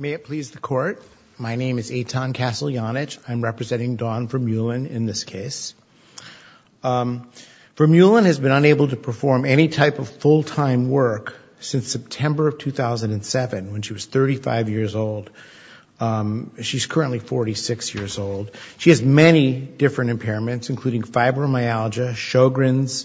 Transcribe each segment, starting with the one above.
May it please the court. My name is Eitan Kassel-Janich. I'm representing Dawn Vermeulen in this case. Vermeulen has been unable to perform any type of full-time work since September of 2007, when she was 35 years old. She's currently 46 years old. She has many different impairments, including fibromyalgia, Sjogren's,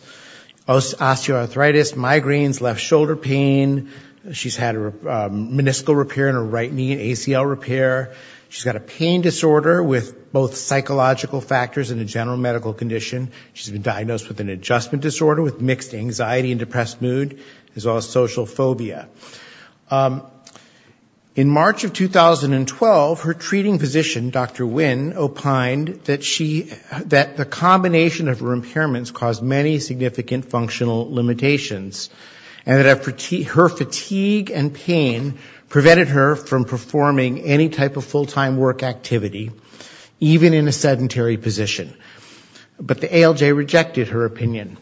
osteoarthritis, migraines, left shoulder pain. She's had a meniscal repair in her right knee, an ACL repair. She's got a pain disorder with both psychological factors and a general medical condition. She's been diagnosed with an adjustment disorder with mixed anxiety and depressed mood, as well as social phobia. In March of 2012, her treating physician, Dr. Wynn, opined that she, that the combination of her impairments caused many significant functional limitations, and that her fatigue and pain prevented her from performing any type of full-time work activity, even in a sedentary position. But the ALJ rejected her opinion.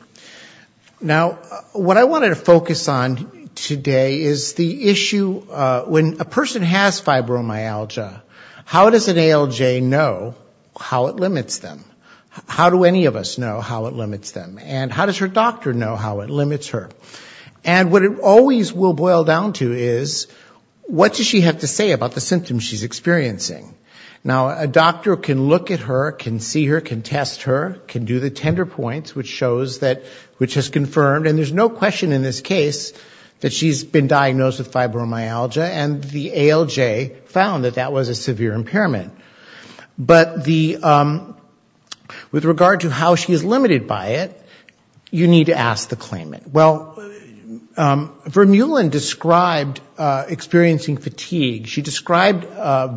Now, what I wanted to focus on today is the issue, when a person has fibromyalgia, how does an ALJ know how it limits them? How do any of us know how it limits them? And how does her doctor know how it limits her? And what it always will boil down to is, what does she have to say about the symptoms she's experiencing? Now, a doctor can look at her, can see her, can test her, can do the tender points, which shows that, which has confirmed, and there's no question in this case, that she's been diagnosed with fibromyalgia, and the ALJ found that that was a severe impairment. But the, with regard to how she is limited by it, you need to ask the claimant. Well, Vermeulen described experiencing fatigue. She described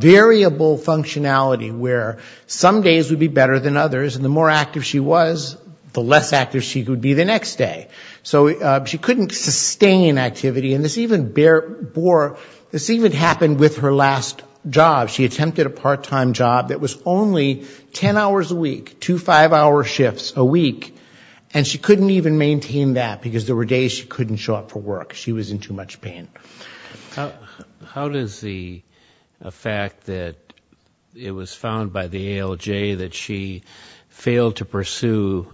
variable functionality, where some days would be better than others, and the more active she was, the less active she would be the next day. So she couldn't sustain activity, and this even, this even happened with her last job. She attempted a part-time job that was only 10 hours a week, two five-hour shifts a week, and she couldn't even maintain that because the radiation was so intense. She couldn't even get, she couldn't, she were days she couldn't show up for work. She was in too much pain. How does the fact that it was found by the ALJ that she failed to pursue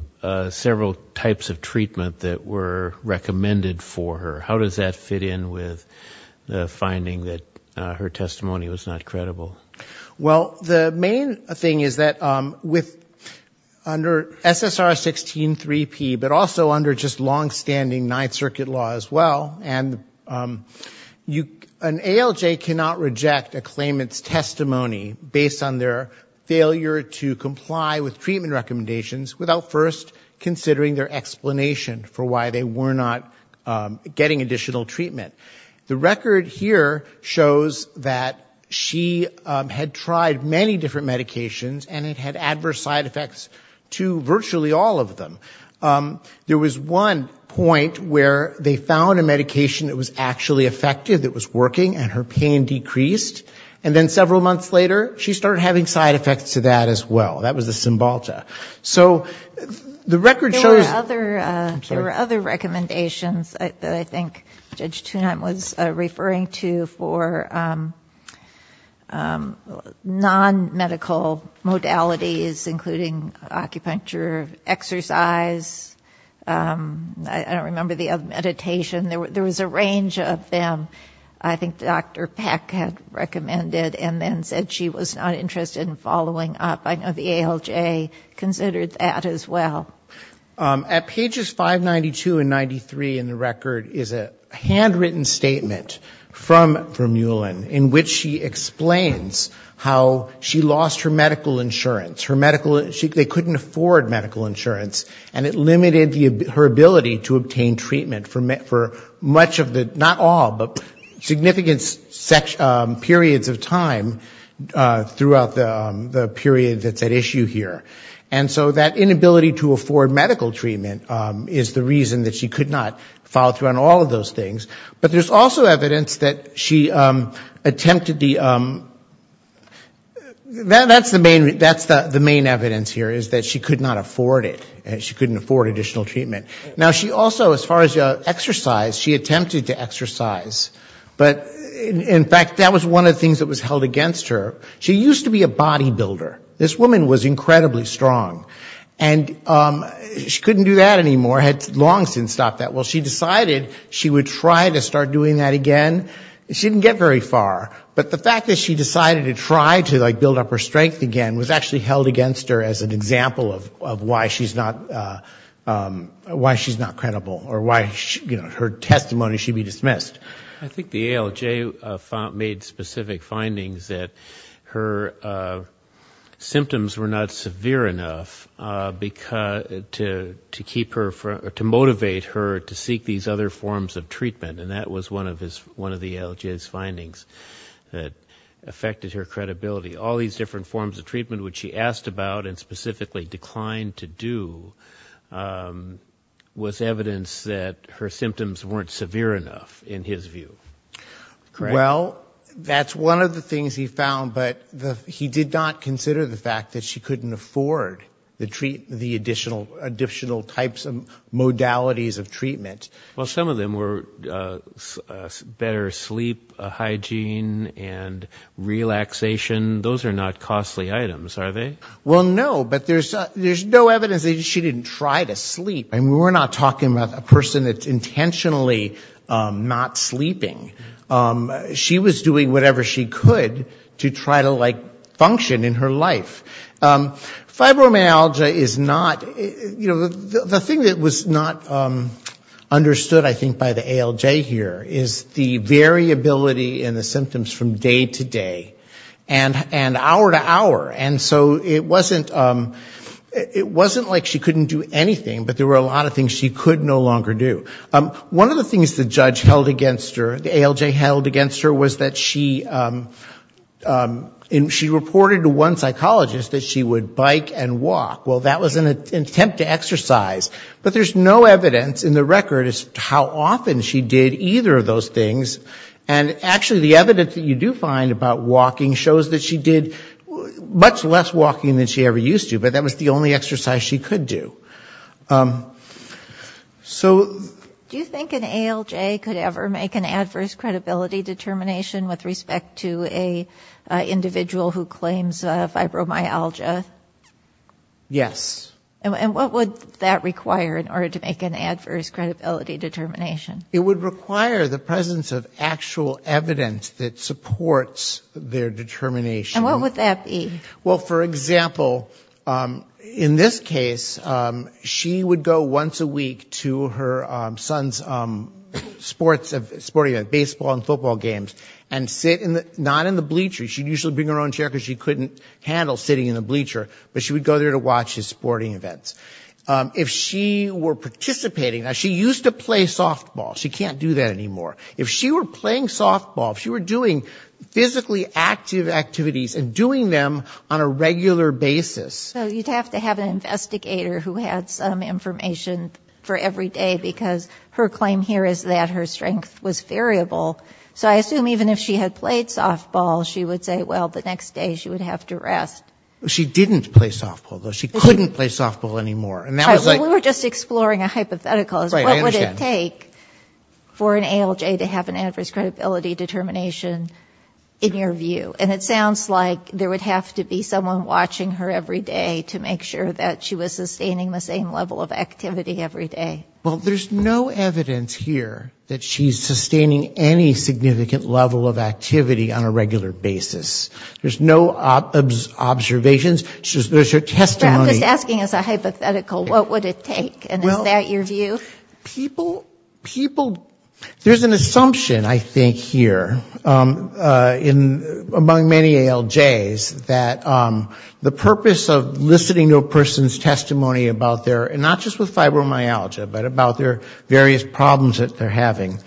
several types of treatment that were recommended for her, how does that fit in with the finding that her testimony was not credible? Well, the main thing is that with, under SSR 16-3P, but also under just long-standing Ninth Circuit law as well, and you, an ALJ cannot reject a claimant's testimony based on their failure to comply with treatment recommendations without first considering their explanation for why they were not getting additional treatment. The record here shows that she had tried many different medications, and it had adverse side effects to virtually all of them. There was one point where they found a medication that was actually effective, it was working, and her pain decreased. And then several months later, she started having side effects to that as well. That was the Cymbalta. So the record shows... There were other recommendations that I think Judge Toonheim was referring to for non-medical modalities including acupuncture, exercise, I don't remember the other, meditation. There was a range of them. I think Dr. Peck had recommended and then said she was not interested in following up. I know the ALJ considered that as well. At pages 592 and 93 in the record is a handwritten statement from Muellen in which she explains how she lost her medical insurance. They couldn't afford medical insurance, and it limited her ability to obtain treatment for much of the, not all, but significant periods of time throughout the period that's at issue here. And so that inability to afford medical treatment is the reason that she could not follow through on all of those things. But there's also evidence that she attempted the... That's the main evidence here, is that she could not afford it. She couldn't afford additional treatment. Now, she also, as far as exercise, she attempted to exercise. But in fact, that was one of the things that was a body builder. This woman was incredibly strong. And she couldn't do that anymore, had long since stopped that. Well, she decided she would try to start doing that again. She didn't get very far. But the fact that she decided to try to build up her strength again was actually held against her as an example of why she's not credible or why her testimony should be dismissed. I think the ALJ made specific findings that her symptoms were not severe enough to motivate her to seek these other forms of treatment. And that was one of the ALJ's findings that affected her credibility. All these different forms of treatment, which she asked about and specifically declined to do, was evidence that her symptoms weren't severe enough in his view. Well, that's one of the things he found. But he did not consider the fact that she couldn't afford the additional types of modalities of treatment. Well, some of them were better sleep hygiene and relaxation. Those are not costly items, are they? Well, no. But there's no evidence that she didn't try to sleep. I mean, we're not talking about a person that's intentionally not sleeping. She was doing whatever she could to try to like function in her life. Fibromyalgia is not, you know, the thing that was not understood, I think, by the ALJ here is the variability in the symptoms from day to day. And hour to hour. And so it wasn't like she couldn't do anything, but there were a lot of things she could no longer do. One of the things the judge held against her, the ALJ held against her, was that she reported to one psychologist that she would bike and walk. Well, that was an attempt to exercise. But there's no evidence in the record as to how often she did either of those things. And actually the evidence that you do find about walking shows that she did much less walking than she ever used to. But that was the only exercise she could do. So do you think an ALJ could ever make an adverse credibility determination with respect to an individual who claims fibromyalgia? Yes. And what would that require in order to make an adverse credibility determination? It would require the presence of actual evidence that supports their determination. And what would that be? Well, for example, in this case, she would go once a week to her son's sports, baseball and football games, and sit not in the bleacher, she'd usually bring her own chair because she couldn't handle sitting in the bleacher, but she would go there to watch his sporting events. If she were participating, now she used to play softball, she can't do that anymore. If she were playing softball, if she were doing physically active activities and doing them on a regular basis... So you'd have to have an investigator who had some information for every day, because her claim here is that her strength was variable. So I assume even if she had played softball, she would say, well, the next day she would have to rest. She didn't play softball, though. She couldn't play softball anymore. We were just exploring a hypothetical. What would it take for an ALJ to have an adverse credibility determination in your view? And it sounds like there would have to be someone watching her every day to make sure that she was sustaining the same level of activity every day. Well, there's no evidence here that she's sustaining any significant level of activity on a regular basis. There's no observations. There's her testimony... I'm just asking as a hypothetical, what would it take? And is that your view? People... There's an assumption, I think, here, among many ALJs, that the purpose of listening to a person's testimony about their, and not just with fibromyalgia, but about their various problems that they're having,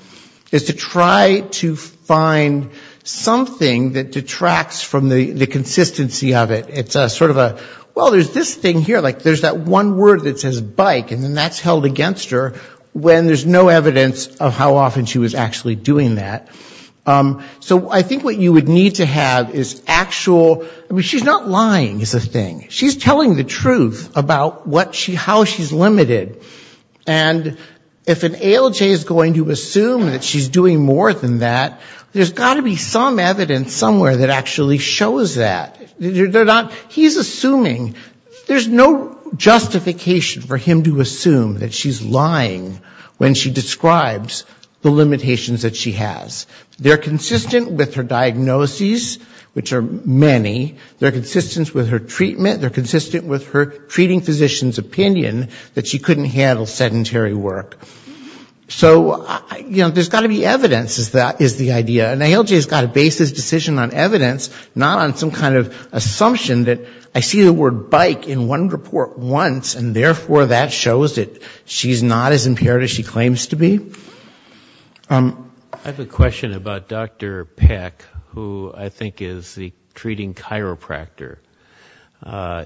is to try to find something that detracts from the consistency of it. It's sort of a, well, there's this thing here, like there's that one word that says bike, and then that's held against her, when there's no evidence of how often she was actually doing that. So I think what you would need to have is actual, I mean, she's not lying is the thing. She's telling the truth about what she, how she's limited. And if an ALJ is going to assume that she's doing more than that, there's got to be some evidence somewhere that actually shows that. They're not, he's assuming, there's no justification for him to assume that she's lying when she describes the limitations that she has. They're consistent with her diagnoses, which are many. They're consistent with her treatment. They're consistent with her treating physician's opinion that she couldn't handle sedentary work. So, you know, there's got to be evidence, is the idea. An ALJ has got to base his decision on evidence, not on some kind of assumption that I see the word bike in one report once and therefore that shows that she's not as impaired as she claims to be. I have a question about Dr. Peck, who I think is the treating chiropractor.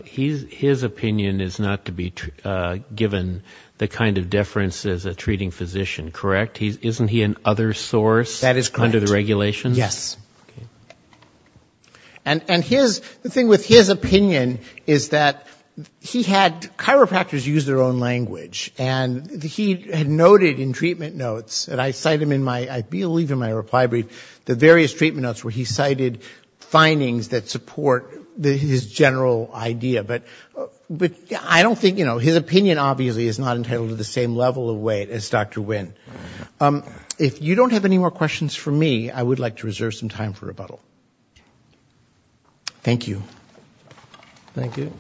His opinion is not to be given the kind of deference as a treating physician, correct? Isn't he an other source under the regulations? Yes. And his, the thing with his opinion is that he had, chiropractors use their own language. And he had noted in treatment notes, and I cite him in my, I believe in my reply brief, the various treatment notes where he cited findings that support his general idea. But I don't think, you know, his opinion obviously is not entitled to the same level of weight as Dr. Nguyen. If you don't have any more questions for me, I would like to reserve some time for rebuttal. Thank you. Thank you.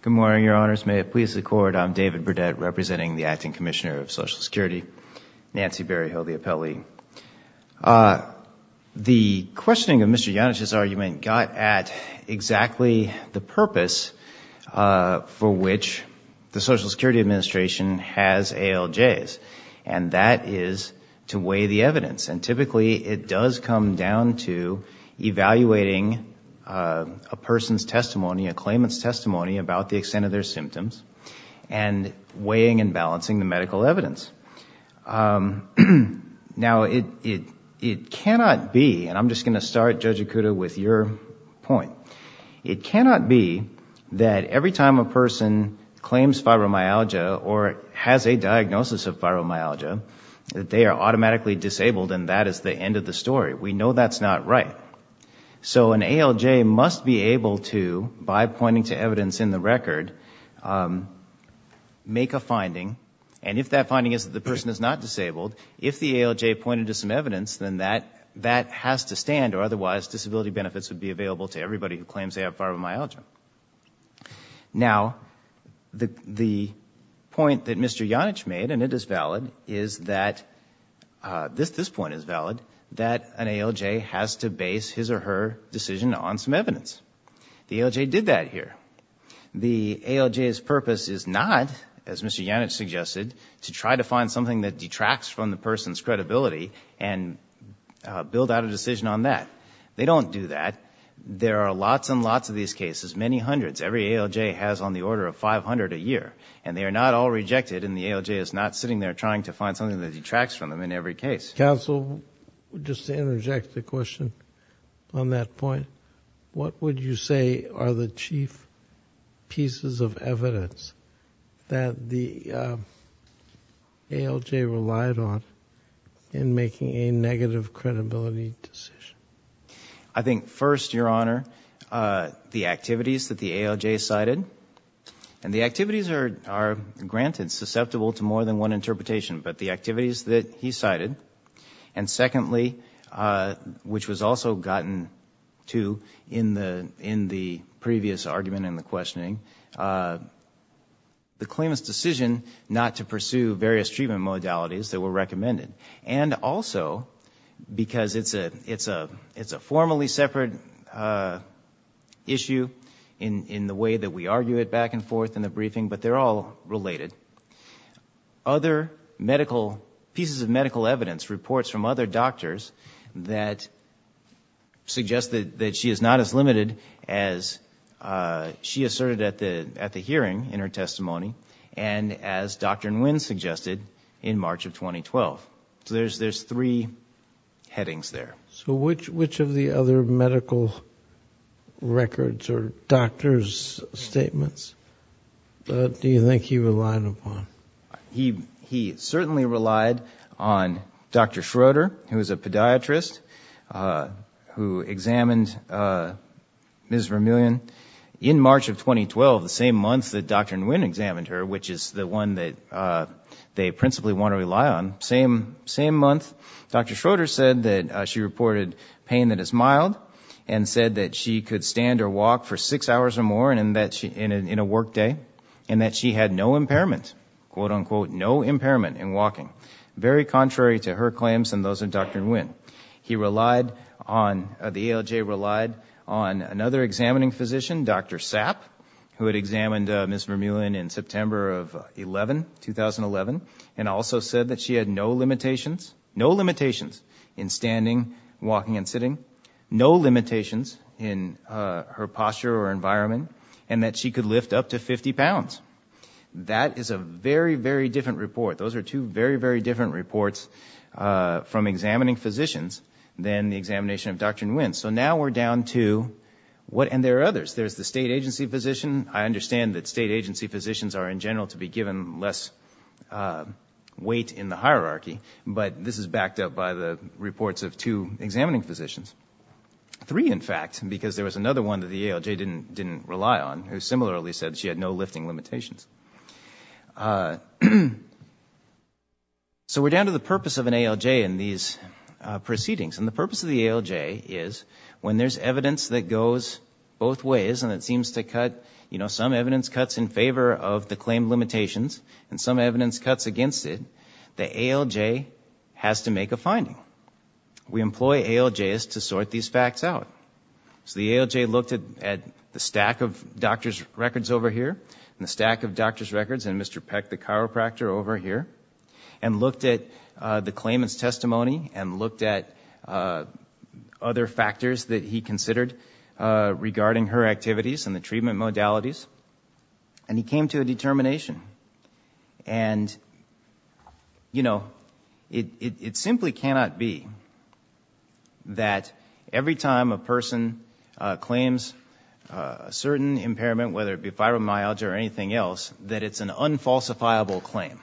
Good morning, your honors. May it please the court, I'm David Burdett, representing the The questioning of Mr. Yannich's argument got at exactly the purpose for which the Social Security Administration has ALJs, and that is to weigh the evidence. And typically it does come down to evaluating a person's testimony, a claimant's testimony about the extent of their symptoms, and weighing and balancing the medical evidence. Now, it cannot be, and I'm just going to start, Judge Okuda, with your point. It cannot be that every time a person claims fibromyalgia or has a diagnosis of fibromyalgia, that they are automatically disabled and that is the end of the story. We know that's not right. So an ALJ must be able to, by pointing to evidence in the record, make a finding. And if that finding is that the person is not disabled, if the ALJ pointed to some evidence, then that has to stand, or otherwise disability benefits would be available to everybody who claims they have fibromyalgia. Now, the point that Mr. Yannich made, and it is valid, is that, this point is valid, that an ALJ has to base his or her decision on some evidence. The ALJ did that here. The ALJ's purpose is not, as Mr. Yannich suggested, to try to find something that detracts from the person's credibility and build out a decision on that. They don't do that. There are lots and lots of these cases, many hundreds, every ALJ has on find something that detracts from them in every case. Counsel, just to interject a question on that point, what would you say are the chief pieces of evidence that the ALJ relied on in making a negative credibility decision? I think first, Your Honor, the activities that the ALJ cited. And the activities are granted, susceptible to more than one interpretation, but the activities that he cited, and secondly, which was also gotten to in the previous argument and the questioning, the claimant's decision not to pursue various treatment modalities that were recommended. And also, because it's a formally separate issue in the way that we argue it back and forth in court, they're all related. Other medical, pieces of medical evidence, reports from other doctors that suggest that she is not as limited as she asserted at the hearing in her testimony, and as Dr. Nguyen suggested, in March of 2012. So there's three headings there. So which of the other medical records or doctor's statements do you think he relied upon? He certainly relied on Dr. Schroeder, who is a podiatrist, who examined Ms. Vermilion in March of 2012, the same month that Dr. Nguyen examined her, which is the one that they principally want to rely on, same month. Dr. Schroeder said that she reported pain that is mild, and said that she could stand or walk for six hours or more in a work day, and that she had no impairment, quote unquote, no impairment in walking, very contrary to her claims and those of Dr. Nguyen. He relied on, the ALJ relied on another examining physician, Dr. Sapp, who had examined Ms. Vermilion in September of 2011, and also said that she had no limitations, no limitations in standing, walking, and sitting, no limitations in her posture or environment, and that she could lift up to 50 pounds. That is a very, very different report. Those are two very, very different reports from examining physicians than the examination of Dr. Nguyen. So now we're down to what, and there are others. There's the state agency physician. I understand that state agency physicians are, in general, to be given less weight in the hierarchy, but this is backed up by the reports of two examining physicians. Three, in fact, because there was another one that the ALJ didn't rely on, who similarly said she had no lifting limitations. So we're down to the purpose of an ALJ in these proceedings, and the purpose of the ALJ is when there's evidence that goes both ways, and it seems to cut, you know, some evidence cuts in favor of the claim limitations and some evidence cuts against it, the ALJ has to make a finding. We employ ALJs to sort these facts out. So the ALJ looked at the stack of doctor's records over here, and the stack of doctor's claimants' testimony, and looked at other factors that he considered regarding her activities and the treatment modalities, and he came to a determination. And, you know, it simply cannot be that every time a person claims a certain impairment, whether it be fibromyalgia or a stroke, that it's an unfalsifiable claim.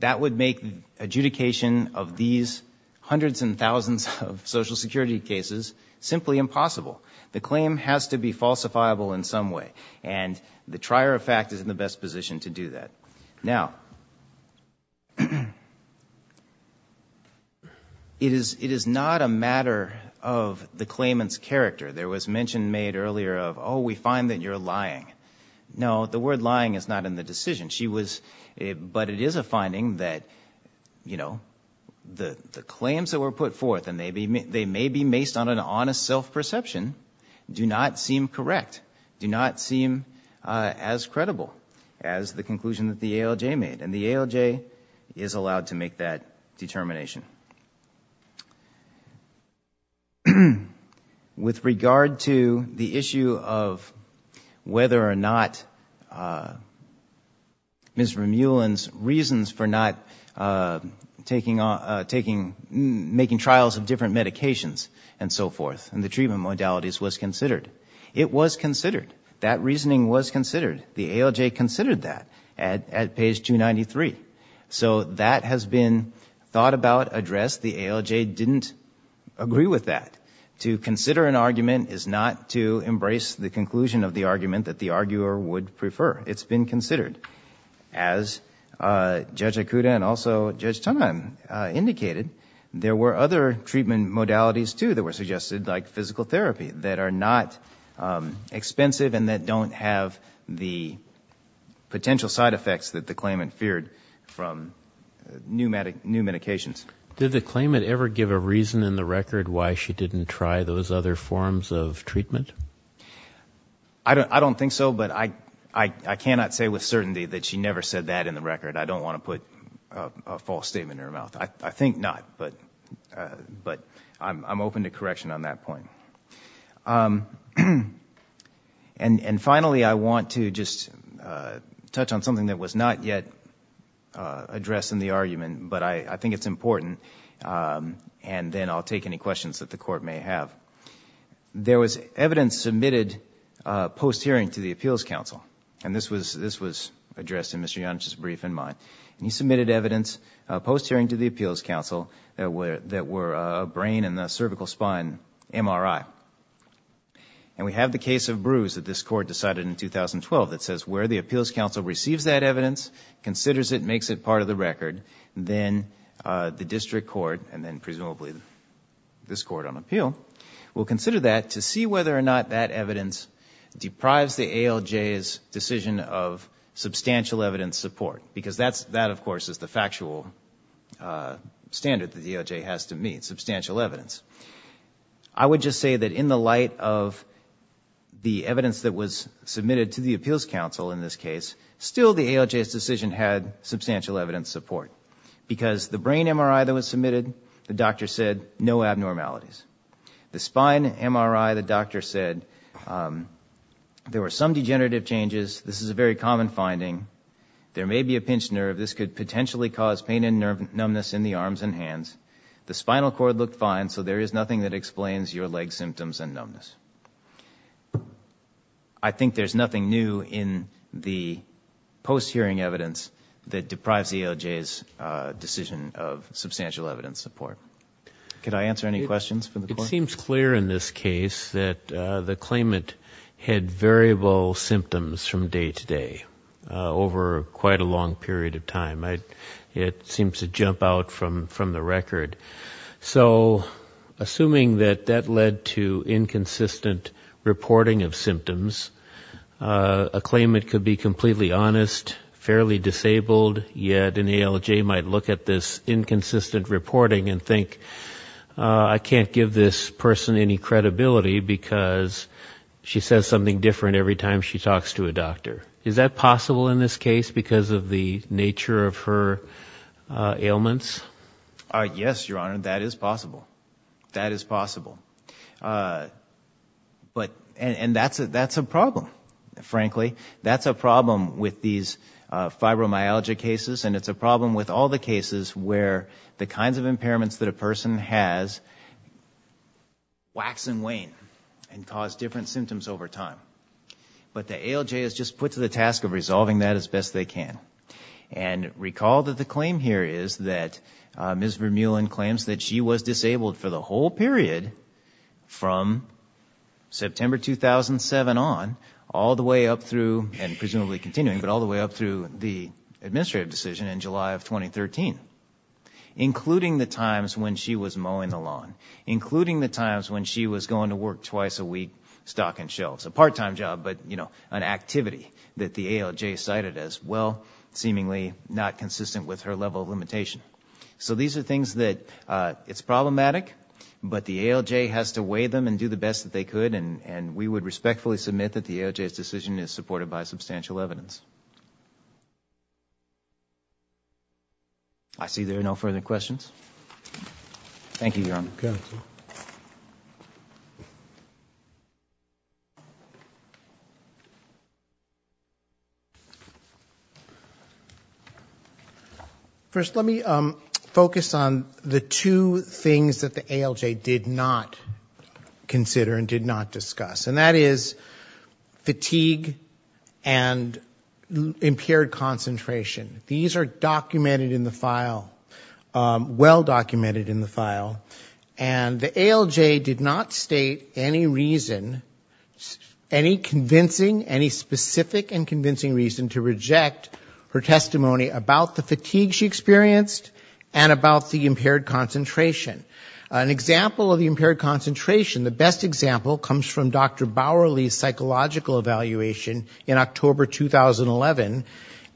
That would make adjudication of these hundreds and thousands of Social Security cases simply impossible. The claim has to be falsifiable in some way, and the trier of fact is in the best position to do that. Now, it is not a matter of the claimant's character. There was mention made earlier of, oh, we find that you're lying. No, the word lying is not in the decision. She was, but it is a finding that, you know, the claims that were put forth, and they may be based on an honest self-perception, do not seem correct, do not seem as credible as the conclusion that the ALJ made. And the ALJ is allowed to make that determination. With regard to the issue of whether or not Ms. Remuland's reasons for not taking, making trials of different medications and so forth and the treatment modalities was considered. It was considered. That reasoning was considered. The ALJ considered that at page 293. So that has been thought about, addressed. The ALJ didn't agree with that. To consider an argument is not to embrace the conclusion of the argument that the arguer would prefer. It's been considered. As Judge Akuta and also Judge Tonheim indicated, there were other treatment modalities too that were suggested, like physical therapy, that are not expensive and that don't have the potential side effects that the claimant feared from new medications. Did the claimant ever give a reason in the record why she didn't try those other forms of treatment? I don't think so, but I cannot say with certainty that she never said that in the record. I don't want to put a false statement in her mouth. I think not, but I'm open to correction on that point. And finally, I want to just touch on something that was not yet addressed in the argument, but I think it's important, and then I'll take any questions that the Court may have. There was evidence submitted post-hearing to the Appeals Council, and this was addressed in Mr. Yonch's brief in mind. He submitted evidence post-hearing to the Appeals Council that were a brain and a cervical spine MRI. And we have the case of 2012 that says where the Appeals Council receives that evidence, considers it, makes it part of the record, then the District Court, and then presumably this Court on Appeal, will consider that to see whether or not that evidence deprives the ALJ's decision of substantial evidence support. Because that, of course, is the factual standard that the ALJ has to meet, substantial evidence. I would just say that in the light of the evidence that was submitted to the Appeals Council in this case, still the ALJ's decision had substantial evidence support. Because the brain MRI that was submitted, the doctor said, no abnormalities. The spine MRI, the doctor said, there were some degenerative changes. This is a very common finding. There may be a pinched nerve. This could potentially cause pain and numbness in the arms and hands. The spinal cord looked fine, so there is nothing that explains your leg symptoms and numbness. I think there is nothing new in the post-hearing evidence that deprives the ALJ's decision of substantial evidence support. Could I answer any questions from the Court? It seems clear in this case that the claimant had variable symptoms from day to day over quite a period of time. It seems to jump out from the record. So assuming that that led to inconsistent reporting of symptoms, a claimant could be completely honest, fairly disabled, yet an ALJ might look at this inconsistent reporting and think, I can't give this person any credibility, because she says something different every time she talks to a doctor. Is that possible in this case, because of the nature of her ailments? Yes, Your Honor, that is possible. That is possible. And that's a problem, frankly. That's a problem with these fibromyalgia cases, and it's a problem with all the cases where the kinds of impairments that a person has wax and wane and cause different And recall that the claim here is that Ms. Vermeulen claims that she was disabled for the whole period from September 2007 on, all the way up through, and presumably continuing, but all the way up through the administrative decision in July of 2013, including the times when she was mowing the lawn, including the times when she was going to work twice a week, stocking shelves, a part-time job, but, you know, an activity that the ALJ cited as, well, seemingly not consistent with her level of limitation. So these are things that, it's problematic, but the ALJ has to weigh them and do the best that they could, and we would respectfully submit that the ALJ's decision is supported by substantial evidence. I see there are no further questions. Thank you, Your Honor. First, let me focus on the two things that the ALJ did not consider and did not discuss, and that is fatigue and impaired concentration. These are documented in the file, well documented in the file, convincing, any specific and convincing reason to reject her testimony about the fatigue she experienced and about the impaired concentration. An example of the impaired concentration, the best example comes from Dr. Bowerly's psychological evaluation in October 2011,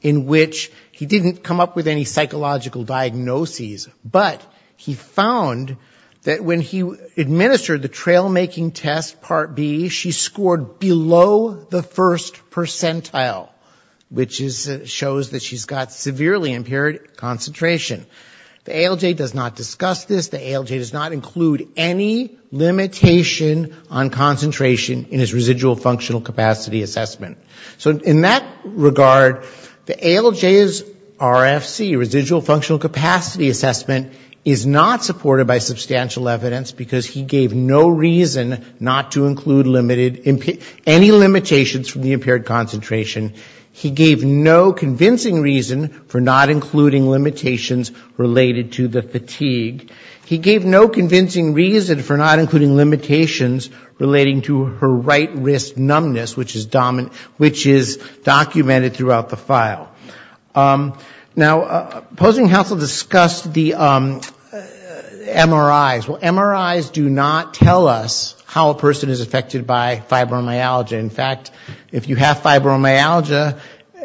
in which he didn't come up with any psychological diagnoses, but he found that when he administered the trail-making test, Part B, she scored below the first percentile, which shows that she's got severely impaired concentration. The ALJ does not discuss this. The ALJ does not include any limitation on concentration in his residual functional capacity assessment. So in that regard, the ALJ's RFC, residual functional capacity assessment, is not supported by substantial evidence because he gave no reason not to include any limitations from the impaired concentration. He gave no convincing reason for not including limitations related to the fatigue. He gave no convincing reason for not including limitations relating to her right wrist numbness, which is documented throughout the file. Now, opposing counsel discussed the MRIs. Well, MRIs do not tell us how a person is affected by fibromyalgia. In fact, if you have fibromyalgia,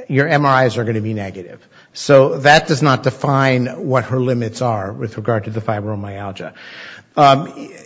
your MRIs are going to be negative. So that does not define what her limits are with regard to the fibromyalgia.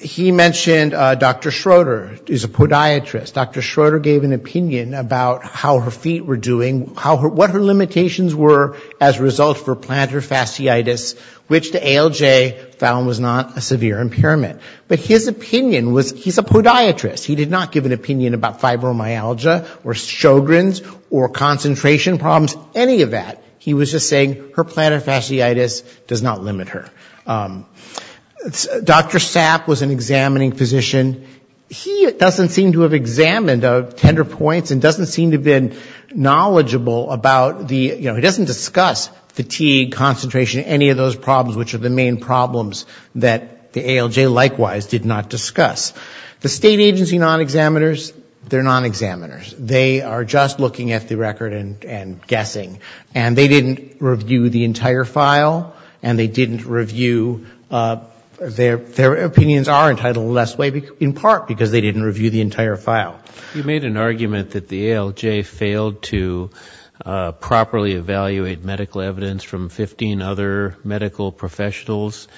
He mentioned Dr. Schroeder is a podiatrist. Dr. Schroeder gave an opinion about how her feet were doing, what her limitations were as a result for plantar fasciitis, which the ALJ found was not a severe impairment. But his opinion was he's a podiatrist. He did not give an opinion about fibromyalgia or Sjogren's or concentration problems, any of that. He was just saying her plantar fasciitis does not limit her. Dr. Sapp was an examining physician. He doesn't seem to have examined tender points and doesn't seem to have been knowledgeable about the, you know, he doesn't discuss fatigue, concentration, any of those problems, which are the main problems that the ALJ likewise did not discuss. The state agency non-examiners, they're non-examiners. They are just looking at the record and guessing. And they didn't review the entire file, and they didn't review, their opinions are entitled less way in part, because they didn't review the entire file. You made an argument that the ALJ failed to properly evaluate medical evidence from 15 other medical professionals.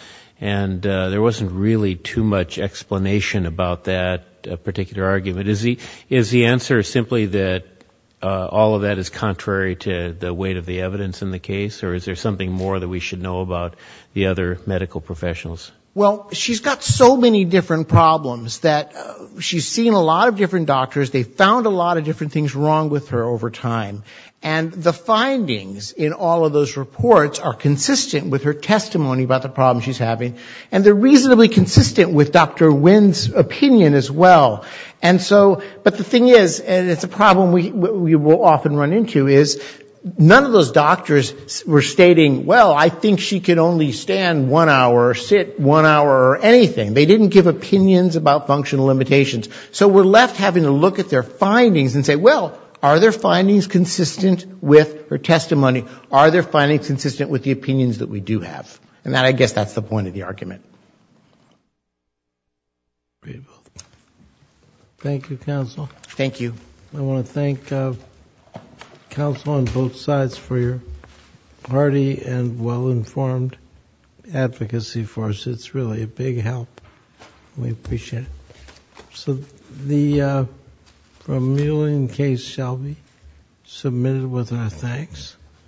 And there wasn't really too much explanation about that particular argument. Is the answer simply that all of that is contrary to the weight of the evidence in the case? Or is there something more that we should know about the other medical professionals? Well, she's got so many different problems that she's seen a lot of different doctors. They found a lot of different things wrong with her over time. And the findings in all of those reports are consistent with her testimony about the problem she's having. And they're reasonably consistent with Dr. Nguyen's opinion as well. But the thing is, and it's a problem we will often run into, is none of those doctors were stating, well, I think she can only stand one hour or sit one hour or anything. They didn't give opinions about functional limitations. So we're left having to look at their findings and say, well, are their findings consistent with her testimony? Are their findings consistent with the opinions that we do have? And I guess that's the point of the argument. Thank you, counsel. I want to thank counsel on both sides for your hearty and well-informed advocacy for us. It's really a big help. We appreciate it.